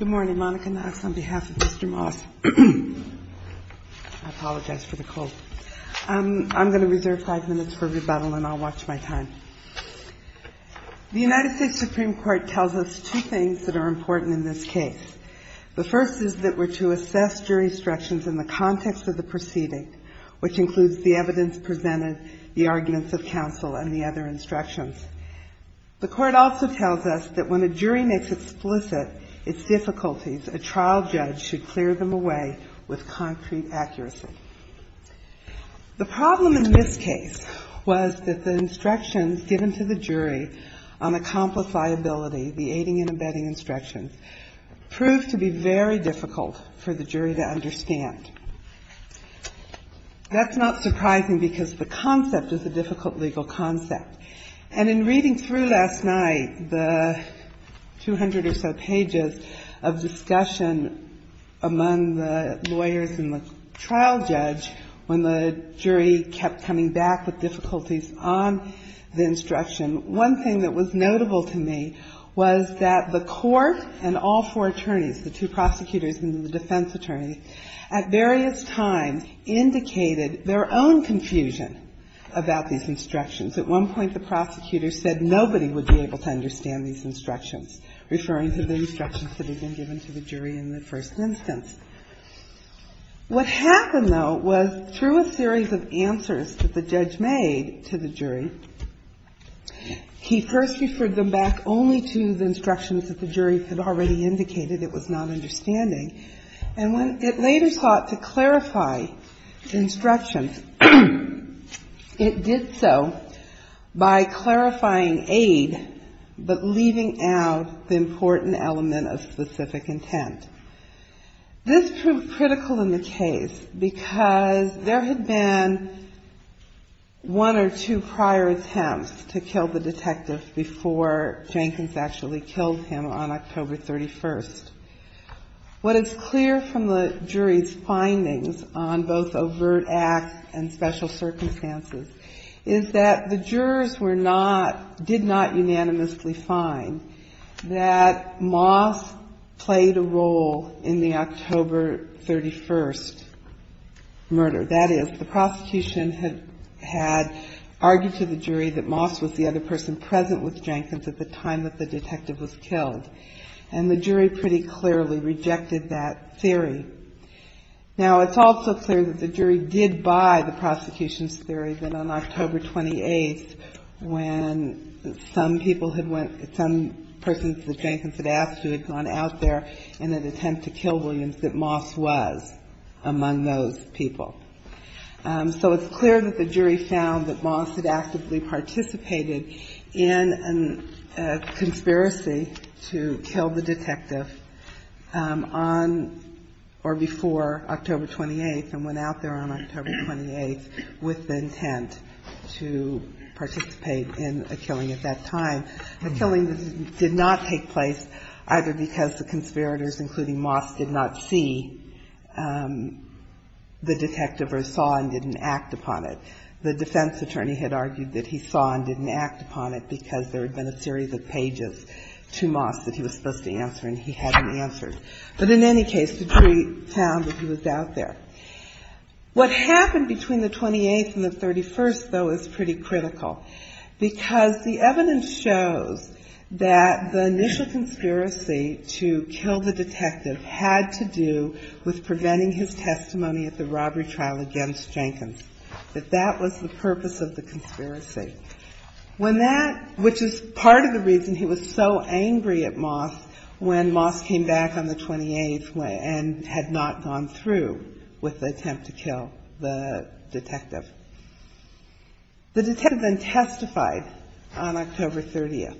The United States Supreme Court tells us two things that are important in this case. The first is that we are to assess jurisdictions in the context of the proceeding, which includes the evidence presented, the arguments of counsel, and the other instructions. The Court also tells us that when a jury makes explicit its difficulties, a trial judge should clear them away with concrete accuracy. The problem in this case was that the instructions given to the jury on accomplifiability, the aiding and abetting instructions, proved to be very difficult for the jury to understand. That's not surprising because the concept is a difficult legal concept. And in reading through last night the 200 or so pages of discussion among the lawyers and the trial judge, when the jury kept coming back with difficulties on the instruction, one thing that was notable to me was that the Court and all four attorneys, the two prosecutors and the defense attorney, at various times indicated their own confusion about these instructions. At one point, the prosecutor said nobody would be able to understand these instructions, referring to the instructions that had been given to the jury in the first instance. What happened, though, was through a series of answers that the judge made to the jury, he first referred them back only to the instructions that the jury had already indicated it was not understanding. And when it later sought to clarify instructions, it did so by clarifying aid but leaving out the important element of specific intent. This proved critical in the case because there had been one or two prior attempts to kill the detective before Jenkins actually killed him on October 31st. What is clear from the jury's findings on both overt acts and special circumstances is that the jurors were not, did not unanimously find that Moss played a role in the October 31st murder. That is, the prosecution had argued to the jury that Moss was the other person present with Jenkins at the time that the detective was killed. And the jury pretty clearly rejected that theory. Now it's also clear that the jury did buy the prosecution's theory that on October 28th, when some people had went, some persons that Jenkins had asked to had gone out there in an attempt to kill Williams, that Moss was among those people. So it's clear that the jury found that Moss had actively participated in a conspiracy to kill the detective on or before October 28th and went out there on October 28th with the intent to participate in a killing at that time. The killing did not take place either because the conspirators, including Moss, did not see the detective or saw and didn't act upon it. The defense attorney had argued that he saw and didn't act upon it because there had been a series of pages to Moss that he was supposed to answer and he hadn't answered. But in any case, the jury found that he was out there. What happened between the 28th and the 31st, though, is pretty critical because the evidence shows that the initial conspiracy to kill the detective had to do with preventing his testimony at the robbery trial against Jenkins, that that was the purpose of the conspiracy, which is part of the reason he was so angry at Moss when Moss came back on the 28th and had not gone through with the attempt to kill the detective. The detective then testified on October 30th.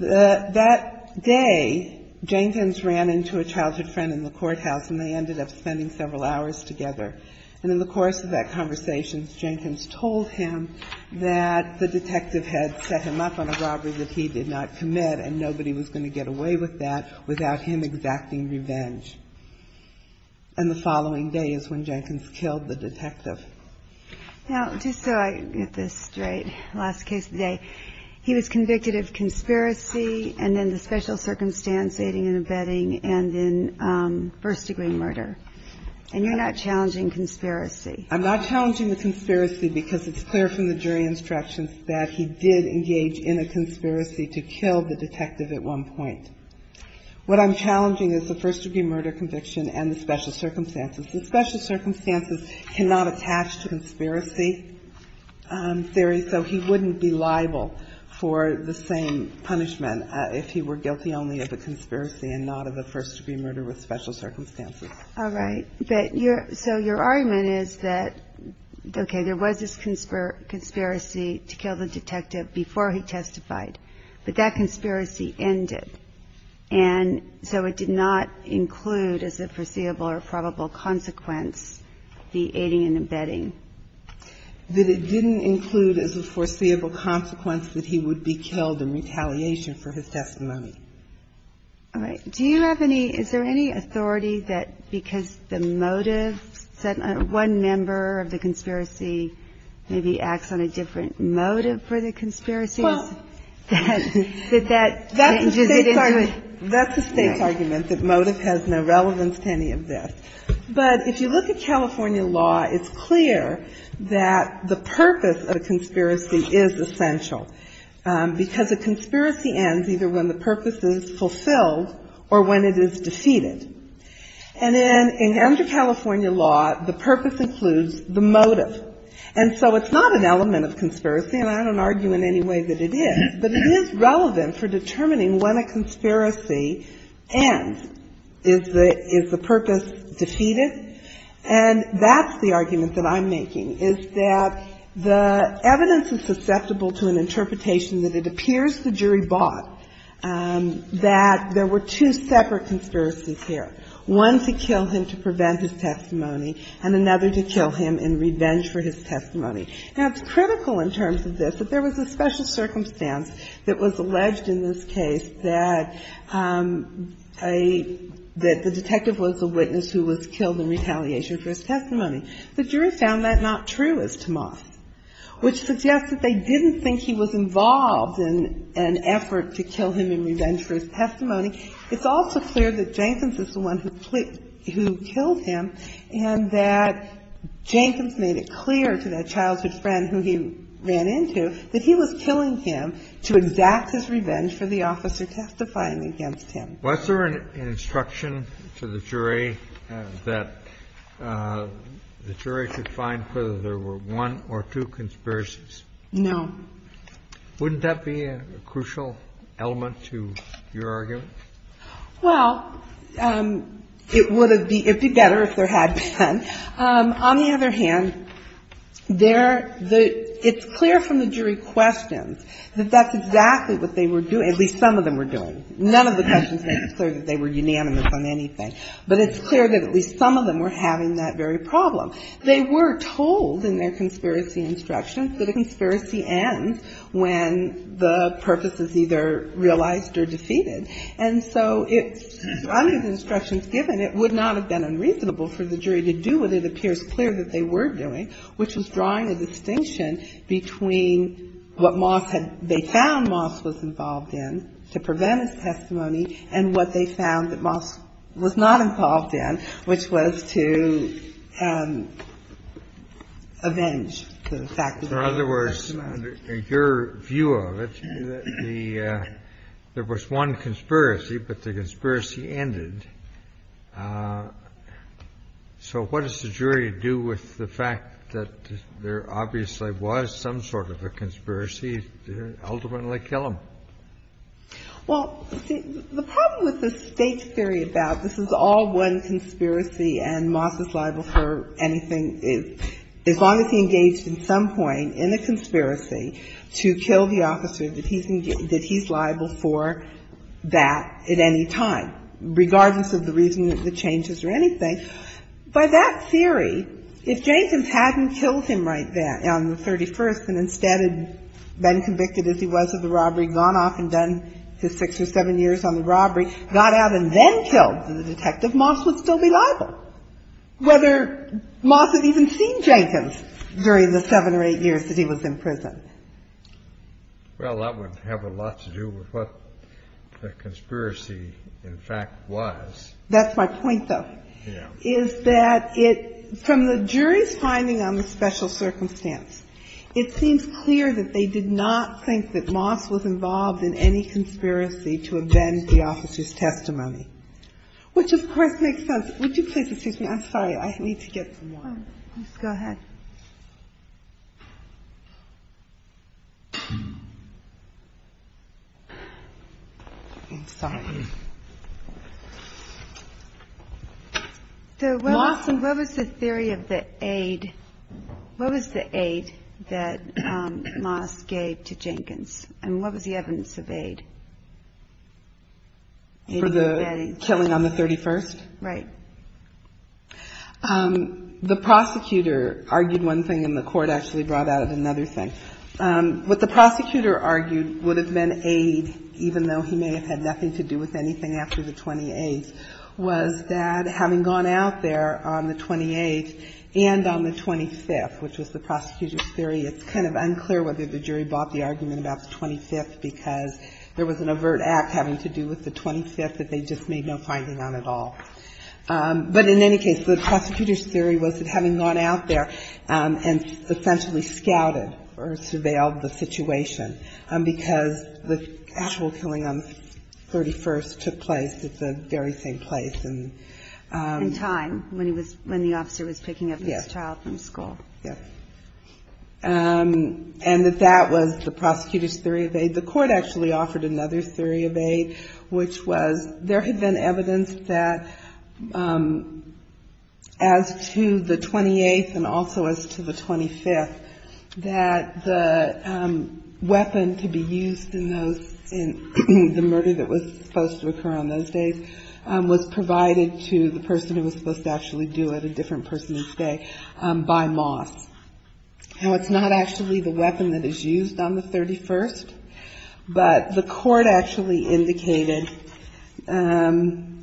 That day Jenkins ran into a childhood friend in the courthouse and they ended up spending several hours together. And in the course of that conversation, Jenkins told him that the detective had set him up on a robbery that he did not commit and nobody was going to get away with that without him exacting the detective. Now, just so I get this straight, last case today, he was convicted of conspiracy and then the special circumstance, aiding and abetting, and then first-degree murder. And you're not challenging conspiracy? I'm not challenging the conspiracy because it's clear from the jury instructions that he did engage in a conspiracy to kill the detective at one point. What I'm challenging is the first-degree murder conviction and the special circumstances. The special circumstances cannot attach to conspiracy theory, so he wouldn't be liable for the same punishment if he were guilty only of a conspiracy and not of a first-degree murder with special circumstances. All right. But your – so your argument is that, okay, there was this conspiracy to kill the detective before he testified, but that conspiracy ended, and so it did not include as a foreseeable or probable consequence the aiding and abetting? That it didn't include as a foreseeable consequence that he would be killed in retaliation for his testimony. All right. Do you have any – is there any authority that because the motive said one member of the conspiracy maybe acts on a different motive for the conspiracy? Well, that's the State's argument. That motive has no relevance to any of this. But if you look at California law, it's clear that the purpose of a conspiracy is essential, because a conspiracy ends either when the purpose is fulfilled or when it is defeated. And then under California law, the purpose includes the motive. And so it's not an element of conspiracy, and I don't argue in any way that it is, but it is relevant for determining when a conspiracy ends. Is the purpose defeated? And that's the argument that I'm making, is that the evidence is susceptible to an interpretation that it appears the jury bought, that there were two separate conspiracies here, one to kill him to prevent his testimony and another to kill him in revenge for his testimony. Now, it's critical in terms of this that there was a special circumstance that was alleged in this case that a – that the detective was a witness who was killed in retaliation for his testimony. The jury found that not true as to Moss, which suggests that they didn't think he was involved in an effort to kill him in revenge for his testimony. It's also clear that Jenkins is the one who killed him and that Jenkins made it clear to that childhood friend who he ran into that he was killing him to exact his revenge for the officer testifying against him. Kennedy. Was there an instruction to the jury that the jury could find whether there were one or two conspiracies? No. Wouldn't that be a crucial element to your argument? Well, it would have been better if there had been. On the other hand, there – it's clear from the jury questions that that's exactly what they were doing, at least some of them were doing. None of the questions make it clear that they were unanimous on anything, but it's clear that at least some of them were having that very problem. They were told in their conspiracy instructions that a conspiracy ends when the purpose is either realized or defeated. And so it's – under the instructions given, it would not have been unreasonable for the jury to do what it appears clear that they were doing, which was drawing a distinction between what Moss had – they found Moss was involved in to prevent his testimony and what they found that Moss was not involved in, which was to avenge the fact that he testified. In other words, in your view of it, the – there was one conspiracy, but the conspiracy ended. So what does the jury do with the fact that there obviously was some sort of a conspiracy to ultimately kill him? Well, see, the problem with the State's theory about this is all one conspiracy and Moss is liable for anything as long as he engaged at some point in the conspiracy to kill the officer that he's – that he's liable for that at any time, regardless of the reason of the changes or anything. By that theory, if Jenkins hadn't killed him right then on the 31st and instead had been convicted as he was of the robbery, gone off and done his six or seven years on the robbery, got out and then killed the detective, Moss would still be liable, whether Moss had even seen Jenkins during the seven or eight years that he was in prison. Well, that would have a lot to do with what the conspiracy, in fact, was. That's my point, though. Yeah. Is that it – from the jury's finding on the special circumstance, it seems clear that they did not think that Moss was involved in any conspiracy to avenge the officer's testimony, which, of course, makes sense. Would you please excuse me? I'm sorry. I need to get some water. Please go ahead. I'm sorry. So what was the theory of the aid? What was the aid that Moss gave to Jenkins? And what was the evidence of aid? For the killing on the 31st? Right. The prosecutor argued one thing, and the court actually brought out another thing. What the prosecutor argued would have been aid, even though he may have had nothing to do with anything after the 28th, was that having gone out there on the 28th and on the 25th, which was the prosecutor's theory, it's kind of unclear whether the jury bought the argument about the 25th because there was an overt act having to do with the 25th that they just made no finding on at all. But in any case, the prosecutor's theory was that having gone out there and essentially scouted or surveilled the situation, because the actual killing on the 31st took place at the very same place and... And time, when he was, when the officer was picking up his child from school. Yes. Yes. And that that was the prosecutor's theory of aid. The court actually offered another theory of aid, which was there had been evidence that as to the 28th and also as to the 25th, that the weapon to be used in those, in the murder that was supposed to occur on those days, was provided to the person who was supposed to actually do it, a different person instead, by Moss. Now, it's not actually the weapon that is used on the 31st, but the court actually indicated, and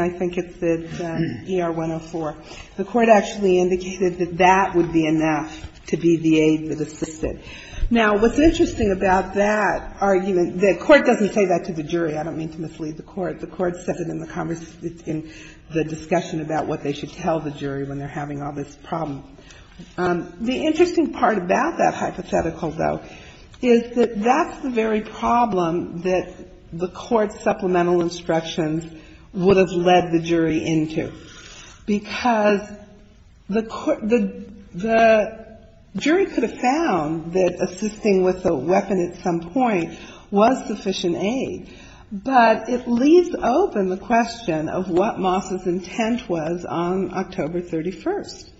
I think it's the ER-104, the court actually indicated that that would be enough to be the aid that assisted. Now, what's interesting about that argument, the court doesn't say that to the jury. I don't mean to mislead the court. The court said it in the conversation, in the discussion about what they should tell the jury when they're having all this problem. The interesting part about that hypothetical, though, is that that's the very problem that the court's supplemental instructions would have led the jury into, because the jury could have found that assisting with a weapon at some point was sufficient aid, but it leaves open the question of what Moss's intent was on, on the 31st, on October 31st.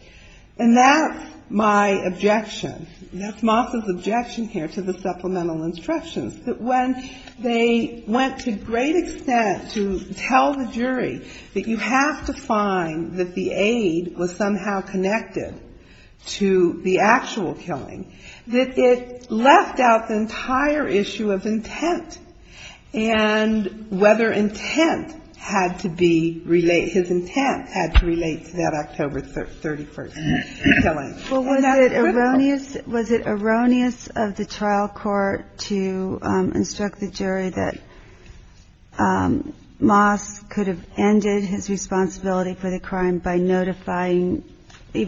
And that's my objection. That's Moss's objection here to the supplemental instructions, that when they went to great extent to tell the jury that you have to find that the aid was somehow connected to the actual killing, that it left out the entire issue of intent and whether intent had to be related. His intent had to relate to that October 31st killing. And that's critical. Well, was it erroneous of the trial court to instruct the jury that Moss could have ended his responsibility for the crime by notifying,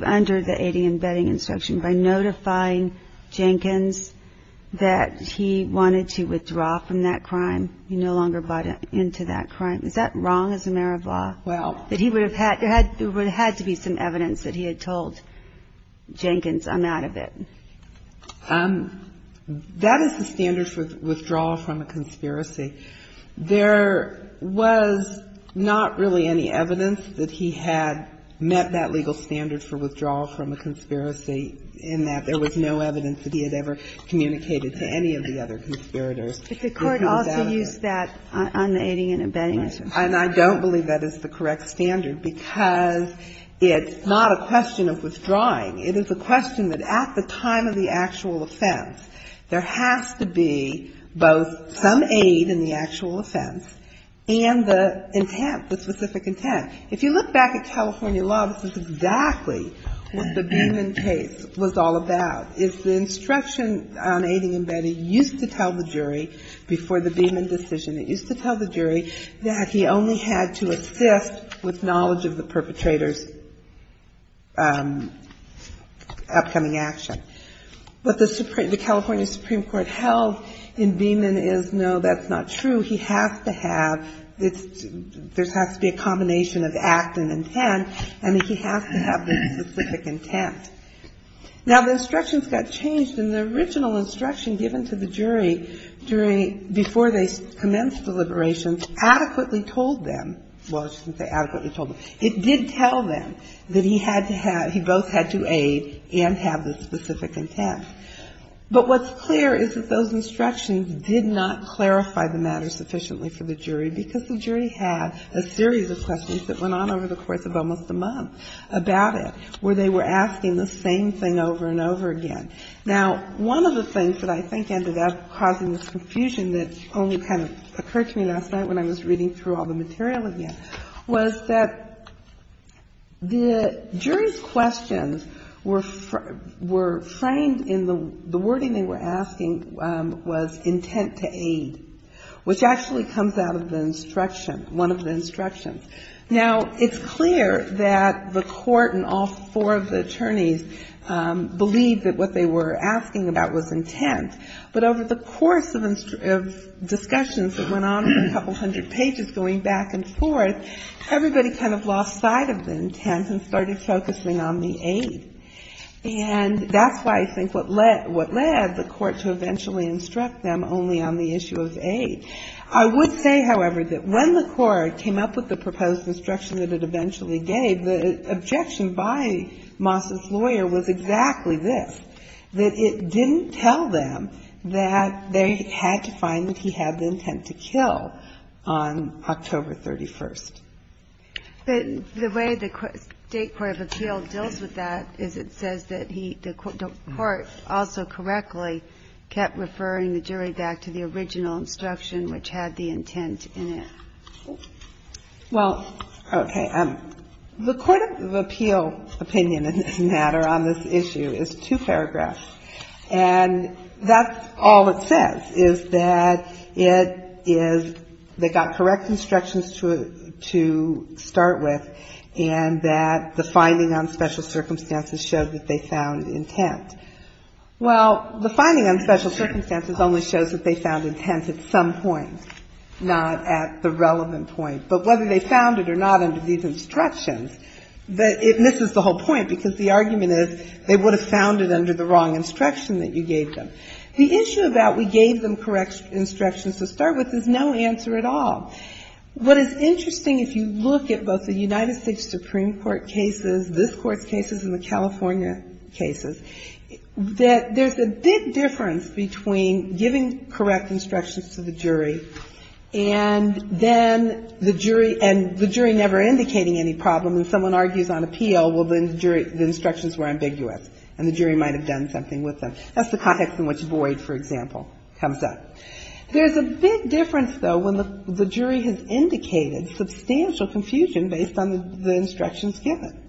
under the aiding and abetting instruction, by notifying Jenkins that he wanted to withdraw from that crime. He no longer bought into that crime. Is that wrong as a matter of law? Well. That he would have had, there had to be some evidence that he had told Jenkins, I'm out of it. That is the standard for withdrawal from a conspiracy. There was not really any evidence that he had met that legal standard for withdrawal from a conspiracy in that there was no evidence that he had ever communicated to any of the other conspirators. But the court also used that on the aiding and abetting. And I don't believe that is the correct standard because it's not a question of withdrawing. It is a question that at the time of the actual offense, there has to be both some aid in the actual offense and the intent, the specific intent. If you look back at California law, this is exactly what the Beeman case was all about. It's the instruction on aiding and abetting used to tell the jury before the Beeman decision, it used to tell the jury that he only had to assist with knowledge of the perpetrator's upcoming action. But the California Supreme Court held in Beeman is, no, that's not true. He has to have, there has to be a combination of act and intent, and he has to have the specific intent. Now, the instructions got changed, and the original instruction given to the jury during, before they commenced deliberations adequately told them, well, I shouldn't say adequately told them, it did tell them that he had to have, he both had to aid and have the specific intent. But what's clear is that those instructions did not clarify the matter sufficiently for the jury because the jury had a series of questions that went on over the course of almost a month about it where they were asking the same thing over and over again. Now, one of the things that I think ended up causing this confusion that only kind of occurred to me last night when I was reading through all the material again was that the jury's questions were framed in the wording they were asking was intent to aid, which actually comes out of the instruction, one of the instructions. Now, it's clear that the court and all four of the attorneys believed that what they were asking about was intent. But over the course of discussions that went on for a couple hundred pages going back and forth, everybody kind of lost sight of the intent and started focusing on the aid. And that's why I think what led the court to eventually instruct them only on the issue of aid. I would say, however, that when the court came up with the proposed instruction that it eventually gave, the objection by Moss's lawyer was exactly this, that it didn't tell them that they had to find that he had the intent to kill on October 31st. But the way the State court of appeal deals with that is it says that he, the court also correctly, kept referring the jury back to the original instruction, which had the intent in it. Well, okay. The court of appeal opinion in this matter on this issue is two paragraphs. And that's all it says, is that it is they got correct instructions to start with and that the finding on special circumstances showed that they found intent. Well, the finding on special circumstances only shows that they found intent at some point, not at the relevant point. But whether they found it or not under these instructions, it misses the whole point because the argument is they would have found it under the wrong instruction that you gave them. The issue about we gave them correct instructions to start with is no answer at all. What is interesting, if you look at both the United States Supreme Court cases, this Court's cases and the California cases, that there's a big difference between giving correct instructions to the jury and then the jury and the jury never indicating any problem. If someone argues on appeal, well, then the jury, the instructions were ambiguous and the jury might have done something with them. That's the context in which void, for example, comes up. There's a big difference, though, when the jury has indicated substantial confusion based on the instructions given.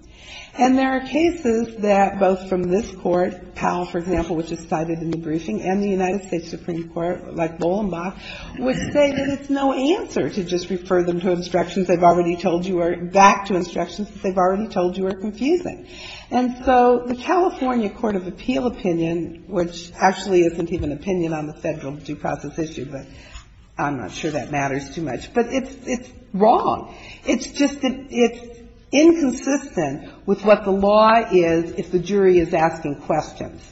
And there are cases that both from this Court, Powell, for example, which is cited in the briefing, and the United States Supreme Court, like Bolenbach, would say that it's no answer to just refer them to instructions they've already told you are — back to instructions that they've already told you are confusing. And so the California court of appeal opinion, which actually isn't even opinion on the Federal due process issue, but I'm not sure that matters too much, but it's wrong. It's just that it's inconsistent with what the law is if the jury is asking questions.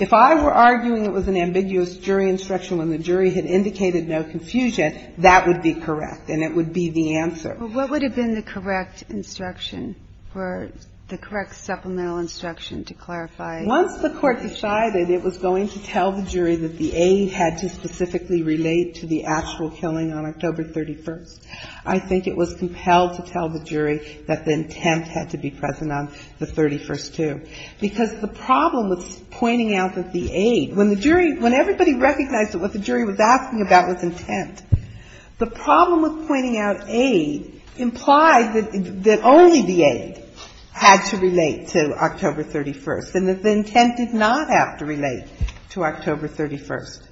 If I were arguing it was an ambiguous jury instruction when the jury had indicated no confusion, that would be correct and it would be the answer. But what would have been the correct instruction for the correct supplemental instruction to clarify? Once the Court decided it was going to tell the jury that the aid had to specifically relate to the actual killing on October 31st, I think it was compelled to tell the jury that the intent had to be present on the 31st, too. Because the problem with pointing out that the aid, when the jury — when everybody recognized that what the jury was asking about was intent, the problem with pointing out aid implied that only the aid had to relate to October 31st, and that the intent did not have to relate to October 31st.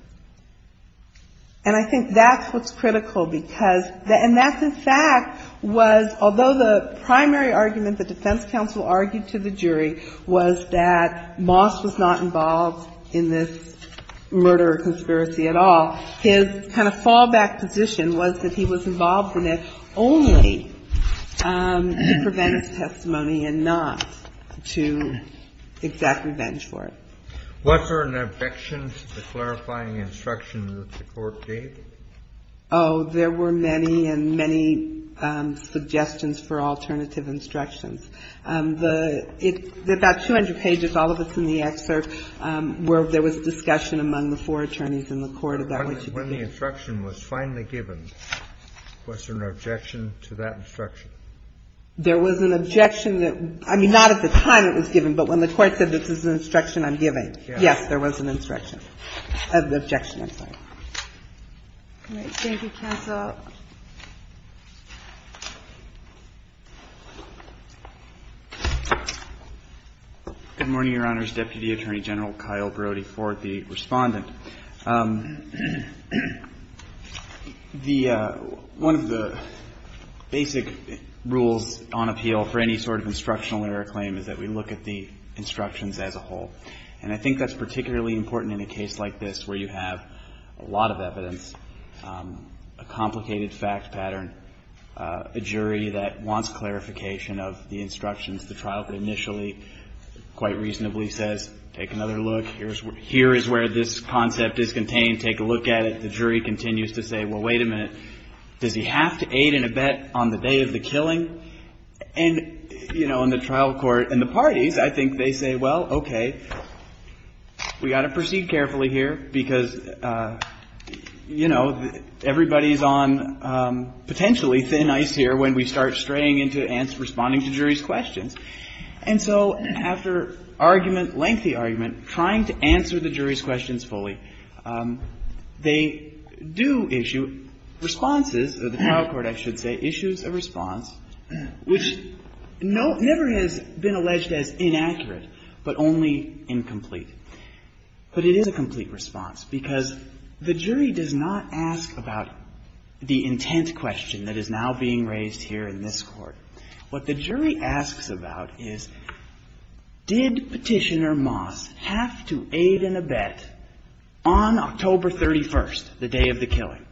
And I think that's what's critical, because — and that, in fact, was — although the primary argument the defense counsel argued to the jury was that Moss was not involved in this murder or conspiracy at all, his kind of fallback position was that he was involved in it only to prevent his testimony and not to exact revenge for it. Was there an objection to the clarifying instruction that the Court gave? Oh, there were many and many suggestions for alternative instructions. The — it — about 200 pages, all of it's in the excerpt, where there was discussion among the four attorneys in the Court about what to do. When the instruction was finally given, was there an objection to that instruction? There was an objection that — I mean, not at the time it was given, but when the Court said, this is an instruction I'm giving, yes, there was an instruction — an objection. I'm sorry. All right. Thank you, counsel. Good morning, Your Honors. Deputy Attorney General Kyle Brody for the Respondent. The — one of the basic rules on appeal for any sort of instructional error claim is that we look at the instructions as a whole. And I think that's particularly important in a case like this, where you have a lot of evidence, a complicated fact pattern, a jury that wants clarification of the instructions. The trial could initially quite reasonably say, take another look, here is where this concept is contained, take a look at it. The jury continues to say, well, wait a minute, does he have to aid in a bet on the day of the killing? And, you know, in the trial court and the parties, I think they say, well, okay, we've got to proceed carefully here because, you know, everybody is on potentially thin ice here when we start straying into responding to jury's questions. And so after argument, lengthy argument, trying to answer the jury's questions fully, they do issue responses — or the trial court, I should say, issues a response which never has been alleged as inaccurate, but only incomplete. But it is a complete response because the jury does not ask about the intent question that is now being raised here in this Court. What the jury asks about is, did Petitioner Moss have to aid in a bet on October 31st, the day of the killing?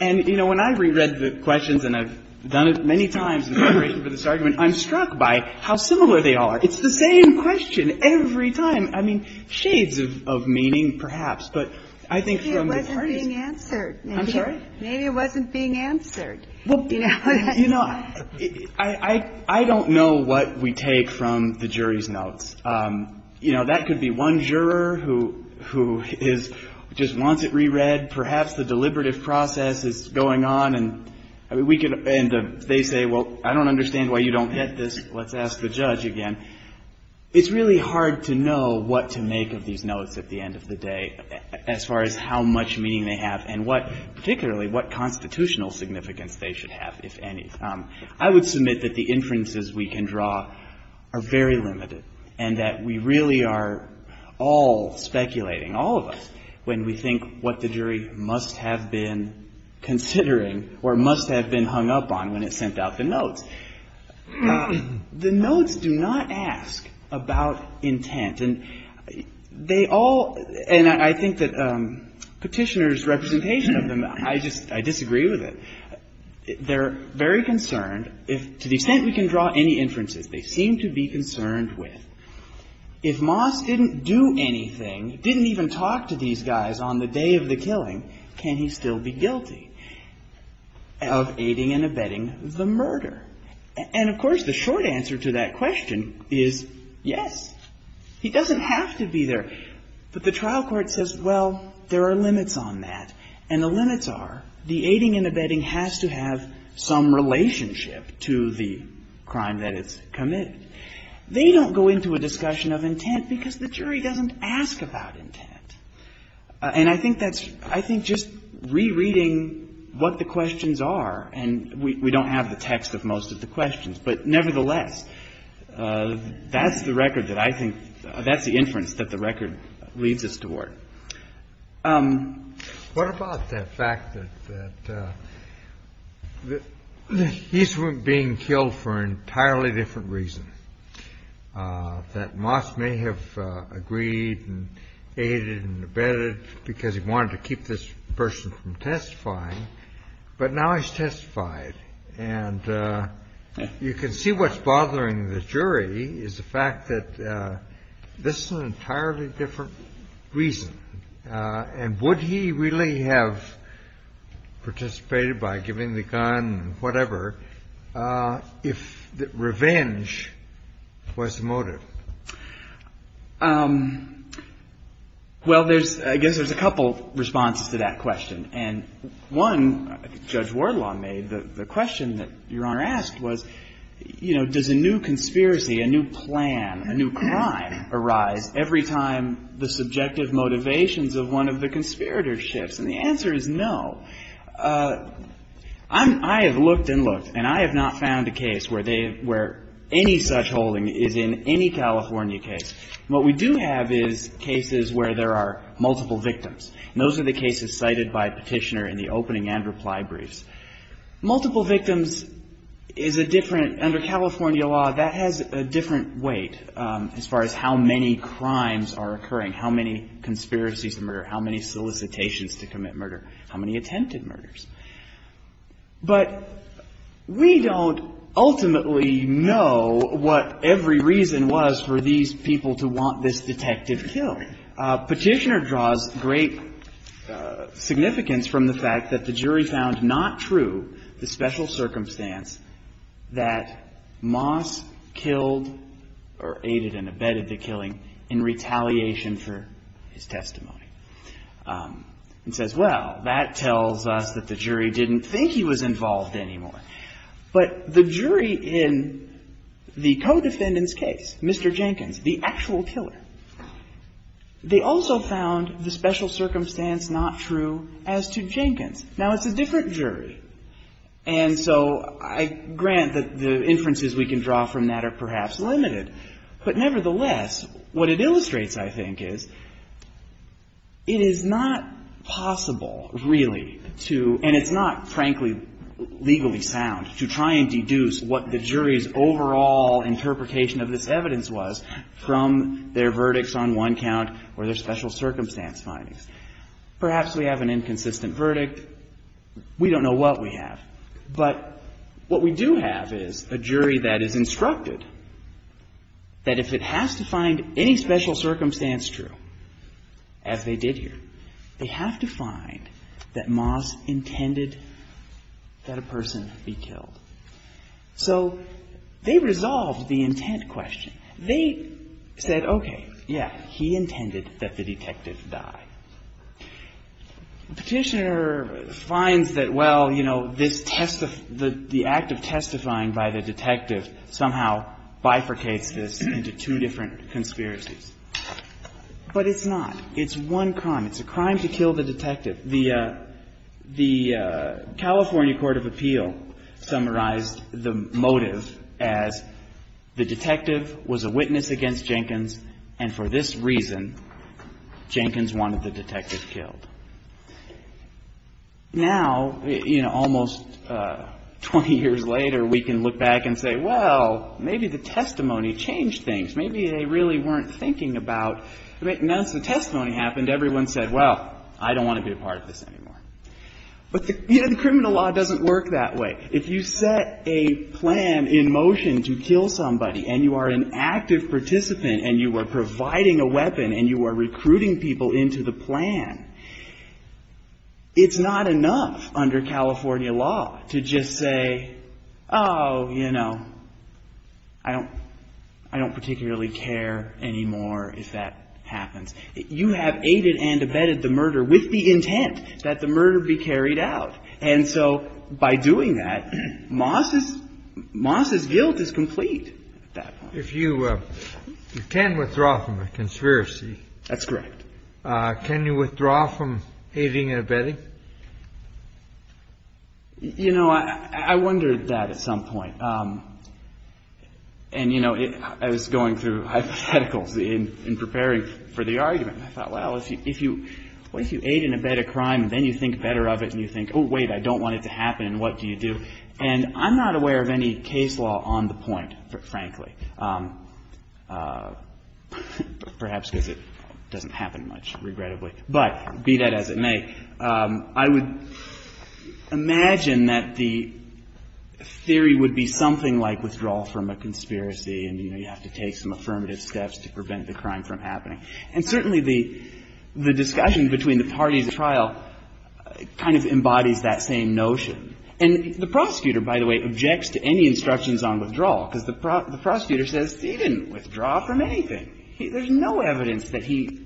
And, you know, when I've reread the questions, and I've done it many times, I've done it many times in preparation for this argument, I'm struck by how similar they all are. It's the same question every time. I mean, shades of meaning, perhaps, but I think from the parties — Maybe it wasn't being answered. I'm sorry? Maybe it wasn't being answered. Well, you know, I don't know what we take from the jury's notes. You know, that could be one juror who is — just wants it reread. Perhaps the deliberative process is going on, and they say, well, I don't understand why you don't get this. Let's ask the judge again. It's really hard to know what to make of these notes at the end of the day as far as how much meaning they have and what — particularly what constitutional significance they should have, if any. I would submit that the inferences we can draw are very limited and that we really are all speculating, all of us, when we think what the jury must have been considering or must have been hung up on when it sent out the notes. The notes do not ask about intent. And they all — and I think that Petitioner's representation of them, I just — I disagree with it. They're very concerned. To the extent we can draw any inferences, they seem to be concerned with. If Moss didn't do anything, didn't even talk to these guys on the day of the killing, can he still be guilty of aiding and abetting the murder? And, of course, the short answer to that question is yes. He doesn't have to be there. But the trial court says, well, there are limits on that. And the limits are the aiding and abetting has to have some relationship to the crime that it's committed. They don't go into a discussion of intent because the jury doesn't ask about intent. And I think that's — I think just rereading what the questions are, and we don't have the text of most of the questions, but nevertheless, that's the record that I think — that's the inference that the record leads us toward. What about the fact that he's being killed for an entirely different reason? That Moss may have agreed and aided and abetted because he wanted to keep this person from testifying, but now he's testified. And you can see what's bothering the jury is the fact that this is an entirely different reason. And would he really have participated by giving the gun and whatever if revenge was the motive? Well, there's — I guess there's a couple responses to that question. And one, Judge Wardlaw made, the question that Your Honor asked was, you know, does a new conspiracy, a new plan, a new crime arise every time the subjective motivations of one of the conspirators shifts? And the answer is no. I have looked and looked, and I have not found a case where they — where any such holding is in any California case. What we do have is cases where there are multiple victims. And those are the cases cited by Petitioner in the opening and reply briefs. Multiple victims is a different — under California law, that has a different weight as far as how many crimes are occurring, how many conspiracies to murder, how many solicitations to commit murder, how many attempted murders. But we don't ultimately know what every reason was for these people to want this detective killed. Petitioner draws great significance from the fact that the jury found not true the special circumstance that Moss killed or aided and abetted the killing in retaliation for his testimony. And says, well, that tells us that the jury didn't think he was involved anymore. But the jury in the co-defendant's case, Mr. Jenkins, the actual killer, they also found the special circumstance not true as to Jenkins. Now, it's a different jury. And so I grant that the inferences we can draw from that are perhaps limited. But nevertheless, what it illustrates, I think, is it is not possible, really, to — and it's not, frankly, legally sound, to try and deduce what the jury's verdicts on one count or their special circumstance findings. Perhaps we have an inconsistent verdict. We don't know what we have. But what we do have is a jury that is instructed that if it has to find any special circumstance true, as they did here, they have to find that Moss intended that a person be killed. So they resolved the intent question. They said, okay, yeah, he intended that the detective die. The Petitioner finds that, well, you know, this — the act of testifying by the detective somehow bifurcates this into two different conspiracies. But it's not. It's one crime. It's a crime to kill the detective. The California Court of Appeal summarized the motive as the detective was killed by the Petitioner, was a witness against Jenkins, and for this reason, Jenkins wanted the detective killed. Now, you know, almost 20 years later, we can look back and say, well, maybe the testimony changed things. Maybe they really weren't thinking about — now that the testimony happened, everyone said, well, I don't want to be a part of this anymore. But, you know, the criminal law doesn't work that way. If you set a plan in motion to kill somebody and you are an active participant and you are providing a weapon and you are recruiting people into the plan, it's not enough under California law to just say, oh, you know, I don't particularly care anymore if that happens. You have aided and abetted the murder with the intent that the murder be carried out. And so by doing that, Moss's guilt is complete at that point. If you can withdraw from a conspiracy. That's correct. Can you withdraw from aiding and abetting? You know, I wondered that at some point. And, you know, I was going through hypotheticals in preparing for the argument. I thought, well, if you aid and abet a crime, then you think better of it and you think, oh, wait, I don't want it to happen and what do you do? And I'm not aware of any case law on the point, frankly. Perhaps because it doesn't happen much, regrettably. But be that as it may, I would imagine that the theory would be something like withdrawal from a conspiracy and, you know, you have to take some affirmative steps to prevent the crime from happening. And certainly the discussion between the parties in the trial kind of embodies that same notion. And the prosecutor, by the way, objects to any instructions on withdrawal because the prosecutor says he didn't withdraw from anything. There's no evidence that he's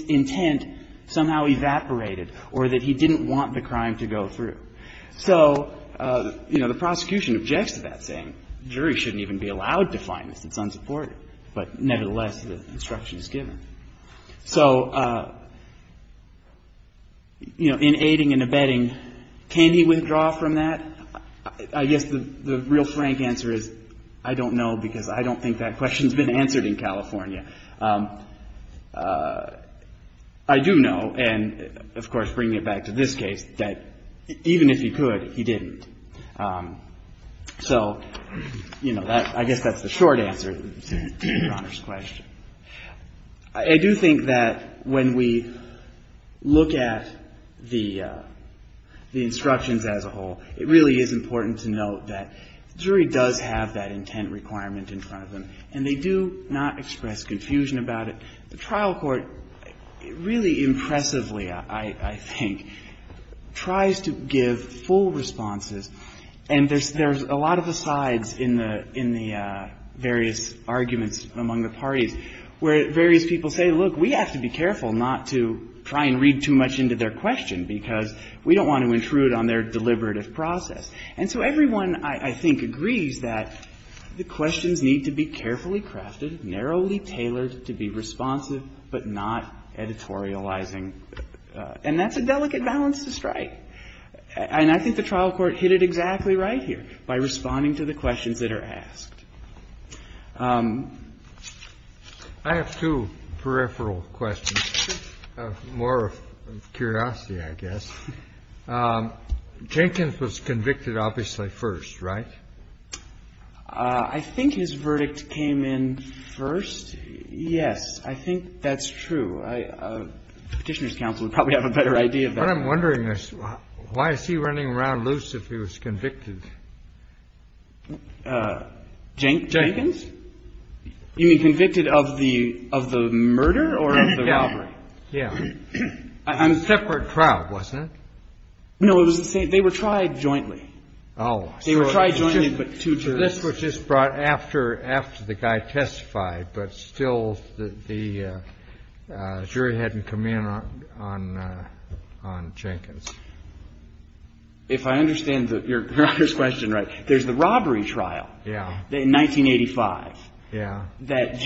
intent somehow evaporated or that he didn't want the crime to go through. So, you know, the prosecution objects to that, saying the jury shouldn't even be allowed to find this. It's unsupported. But nevertheless, the instruction is given. So, you know, in aiding and abetting, can he withdraw from that? I guess the real frank answer is I don't know because I don't think that question's been answered in California. I do know, and of course bringing it back to this case, that even if he could, he didn't. So, you know, I guess that's the short answer to Your Honor's question. I do think that when we look at the instructions as a whole, it really is important to note that the jury does have that intent requirement in front of them, and they do not express confusion about it. The trial court really impressively, I think, tries to give full responses, and there's a lot of asides in the various arguments among the parties, where various people say, look, we have to be careful not to try and read too much into their question because we don't want to intrude on their deliberative process. And so everyone, I think, agrees that the questions need to be carefully crafted, narrowly tailored to be responsive but not editorializing, and that's a delicate balance to strike. And I think the trial court hit it exactly right here by responding to the questions that are asked. I have two peripheral questions, more of curiosity, I guess. Jenkins was convicted, obviously, first, right? I think his verdict came in first. Yes, I think that's true. Petitioner's counsel would probably have a better idea of that. What I'm wondering is why is he running around loose if he was convicted? Jenkins? You mean convicted of the murder or of the robbery? Yeah. It was a separate trial, wasn't it? No, it was the same. They were tried jointly. Oh. They were tried jointly but two jurors. So this was just brought after the guy testified, but still the jury hadn't come in on Jenkins. If I understand your question right, there's the robbery trial in 1985. Yeah. And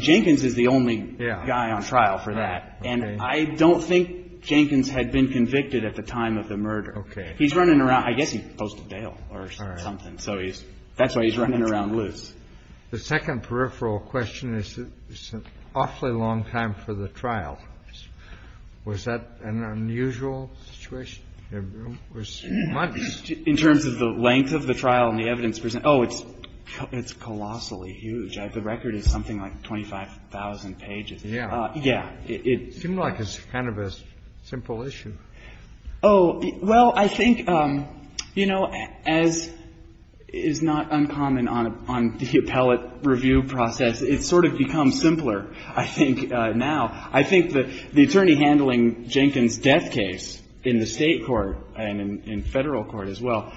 Jenkins is the only guy on trial for that. And I don't think Jenkins had been convicted at the time of the murder. Okay. He's running around. I guess he posted bail or something. All right. So that's why he's running around loose. The second peripheral question is it's an awfully long time for the trial. Was that an unusual situation? It was months. In terms of the length of the trial and the evidence presented. Oh, it's colossally huge. The record is something like 25,000 pages. Yeah. It seemed like it's kind of a simple issue. Oh, well, I think, you know, as is not uncommon on the appellate review process, it's sort of become simpler, I think, now. I think that the attorney handling Jenkins' death case in the State court and in Federal court as well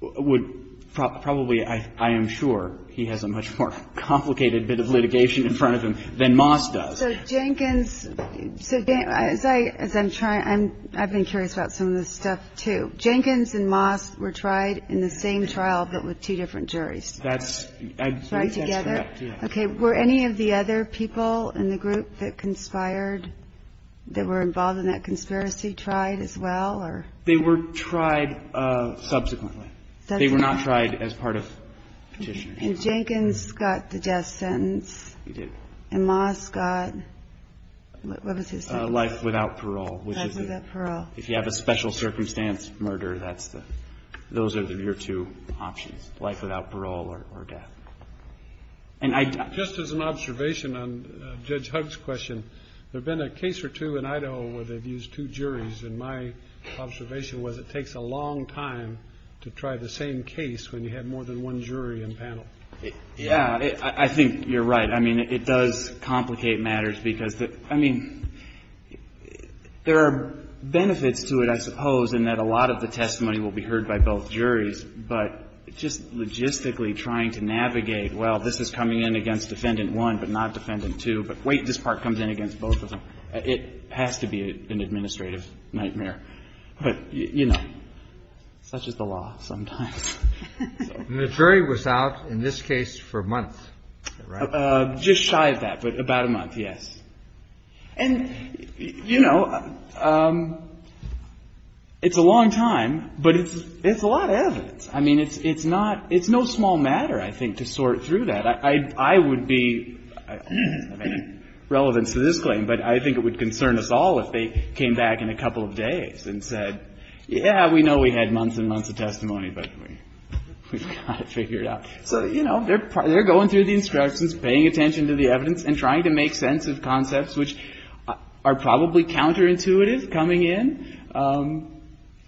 would probably, I am sure, he has a much more complicated bit of litigation in front of him than Moss does. So Jenkins, as I'm trying, I've been curious about some of this stuff, too. Jenkins and Moss were tried in the same trial but with two different juries. That's right. Together. Okay. Were any of the other people in the group that conspired, that were involved in that conspiracy, tried as well? They were tried subsequently. They were not tried as part of petition. Jenkins got the death sentence. He did. And Moss got, what was his sentence? Life without parole. Life without parole. If you have a special circumstance murder, that's the, those are your two options, life without parole or death. And I. Just as an observation on Judge Hugg's question, there have been a case or two in Idaho where they've used two juries. And my observation was it takes a long time to try the same case when you have more than one jury and panel. Yeah. I think you're right. I mean, it does complicate matters because, I mean, there are benefits to it, I suppose, in that a lot of the testimony will be heard by both juries. But just logistically trying to navigate, well, this is coming in against Defendant 1 but not Defendant 2, but wait, this part comes in against both of them, it has to be an administrative nightmare. But, you know, such is the law sometimes. And the jury was out in this case for a month, right? Just shy of that, but about a month, yes. And, you know, it's a long time, but it's a lot of evidence. I mean, it's not, it's no small matter, I think, to sort through that. I would be, I don't have any relevance to this claim, but I think it would concern us all if they came back in a couple of days and said, yeah, we know we had months and months of testimony, but we've got it figured out. So, you know, they're going through the instructions, paying attention to the evidence and trying to make sense of concepts which are probably counterintuitive coming in. Kennedy.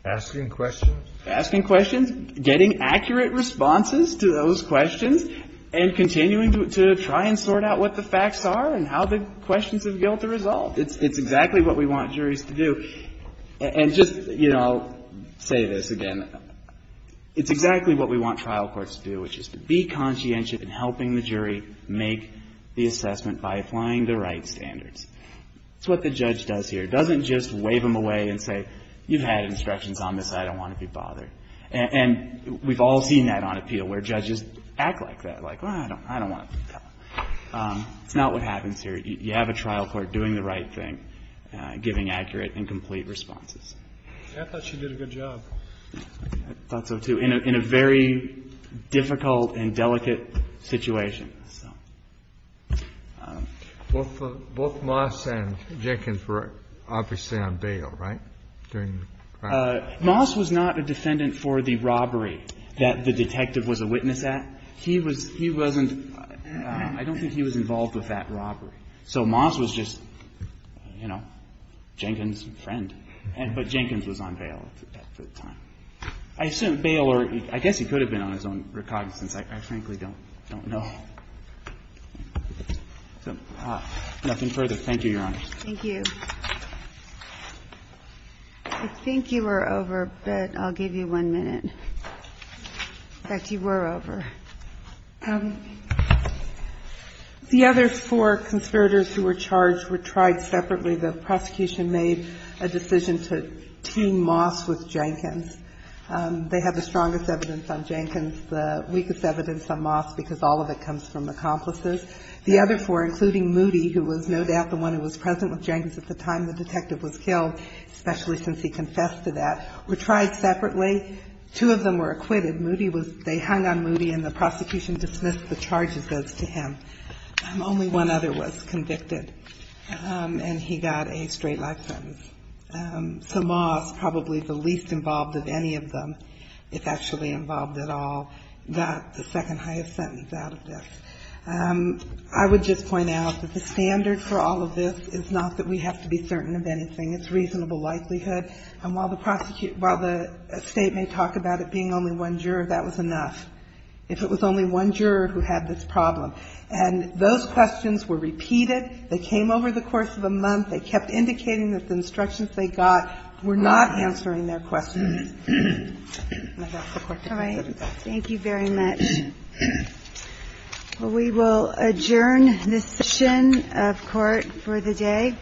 Asking questions. Asking questions, getting accurate responses to those questions, and continuing to try and sort out what the facts are and how the questions of guilt are resolved. It's exactly what we want juries to do. And just, you know, I'll say this again. It's exactly what we want trial courts to do, which is to be conscientious in helping the jury make the assessment by applying the right standards. It's what the judge does here. It doesn't just wave them away and say, you've had instructions on this. I don't want to be bothered. And we've all seen that on appeal, where judges act like that, like, well, I don't want to be bothered. It's not what happens here. You have a trial court doing the right thing, giving accurate and complete responses. I thought she did a good job. I thought so, too, in a very difficult and delicate situation. So. Both Moss and Jenkins were obviously on bail, right, during the crime? Moss was not a defendant for the robbery that the detective was a witness at. He was he wasn't – I don't think he was involved with that robbery. So Moss was just, you know, Jenkins' friend. But Jenkins was on bail at the time. I assume bail or – I guess he could have been on his own recognizance. I frankly don't know. Nothing further. Thank you, Your Honor. Thank you. I think you were over, but I'll give you one minute. In fact, you were over. The other four conspirators who were charged were tried separately. The prosecution made a decision to team Moss with Jenkins. They have the strongest evidence on Jenkins, the weakest evidence on Moss, because all of it comes from accomplices. The other four, including Moody, who was no doubt the one who was present with Jenkins at the time the detective was killed, especially since he confessed to that, were tried separately. Two of them were acquitted. Moody was – they hung on Moody, and the prosecution dismissed the charges as to him. Only one other was convicted, and he got a straight life sentence. So Moss, probably the least involved of any of them, if actually involved at all, got the second-highest sentence out of this. I would just point out that the standard for all of this is not that we have to be certain of anything. It's reasonable likelihood. And while the state may talk about it being only one juror, that was enough. If it was only one juror who had this problem. And those questions were repeated. They came over the course of a month. They kept indicating that the instructions they got were not answering their questions. And that's the Court decision. All right. Thank you very much. We will adjourn this session of court for the day.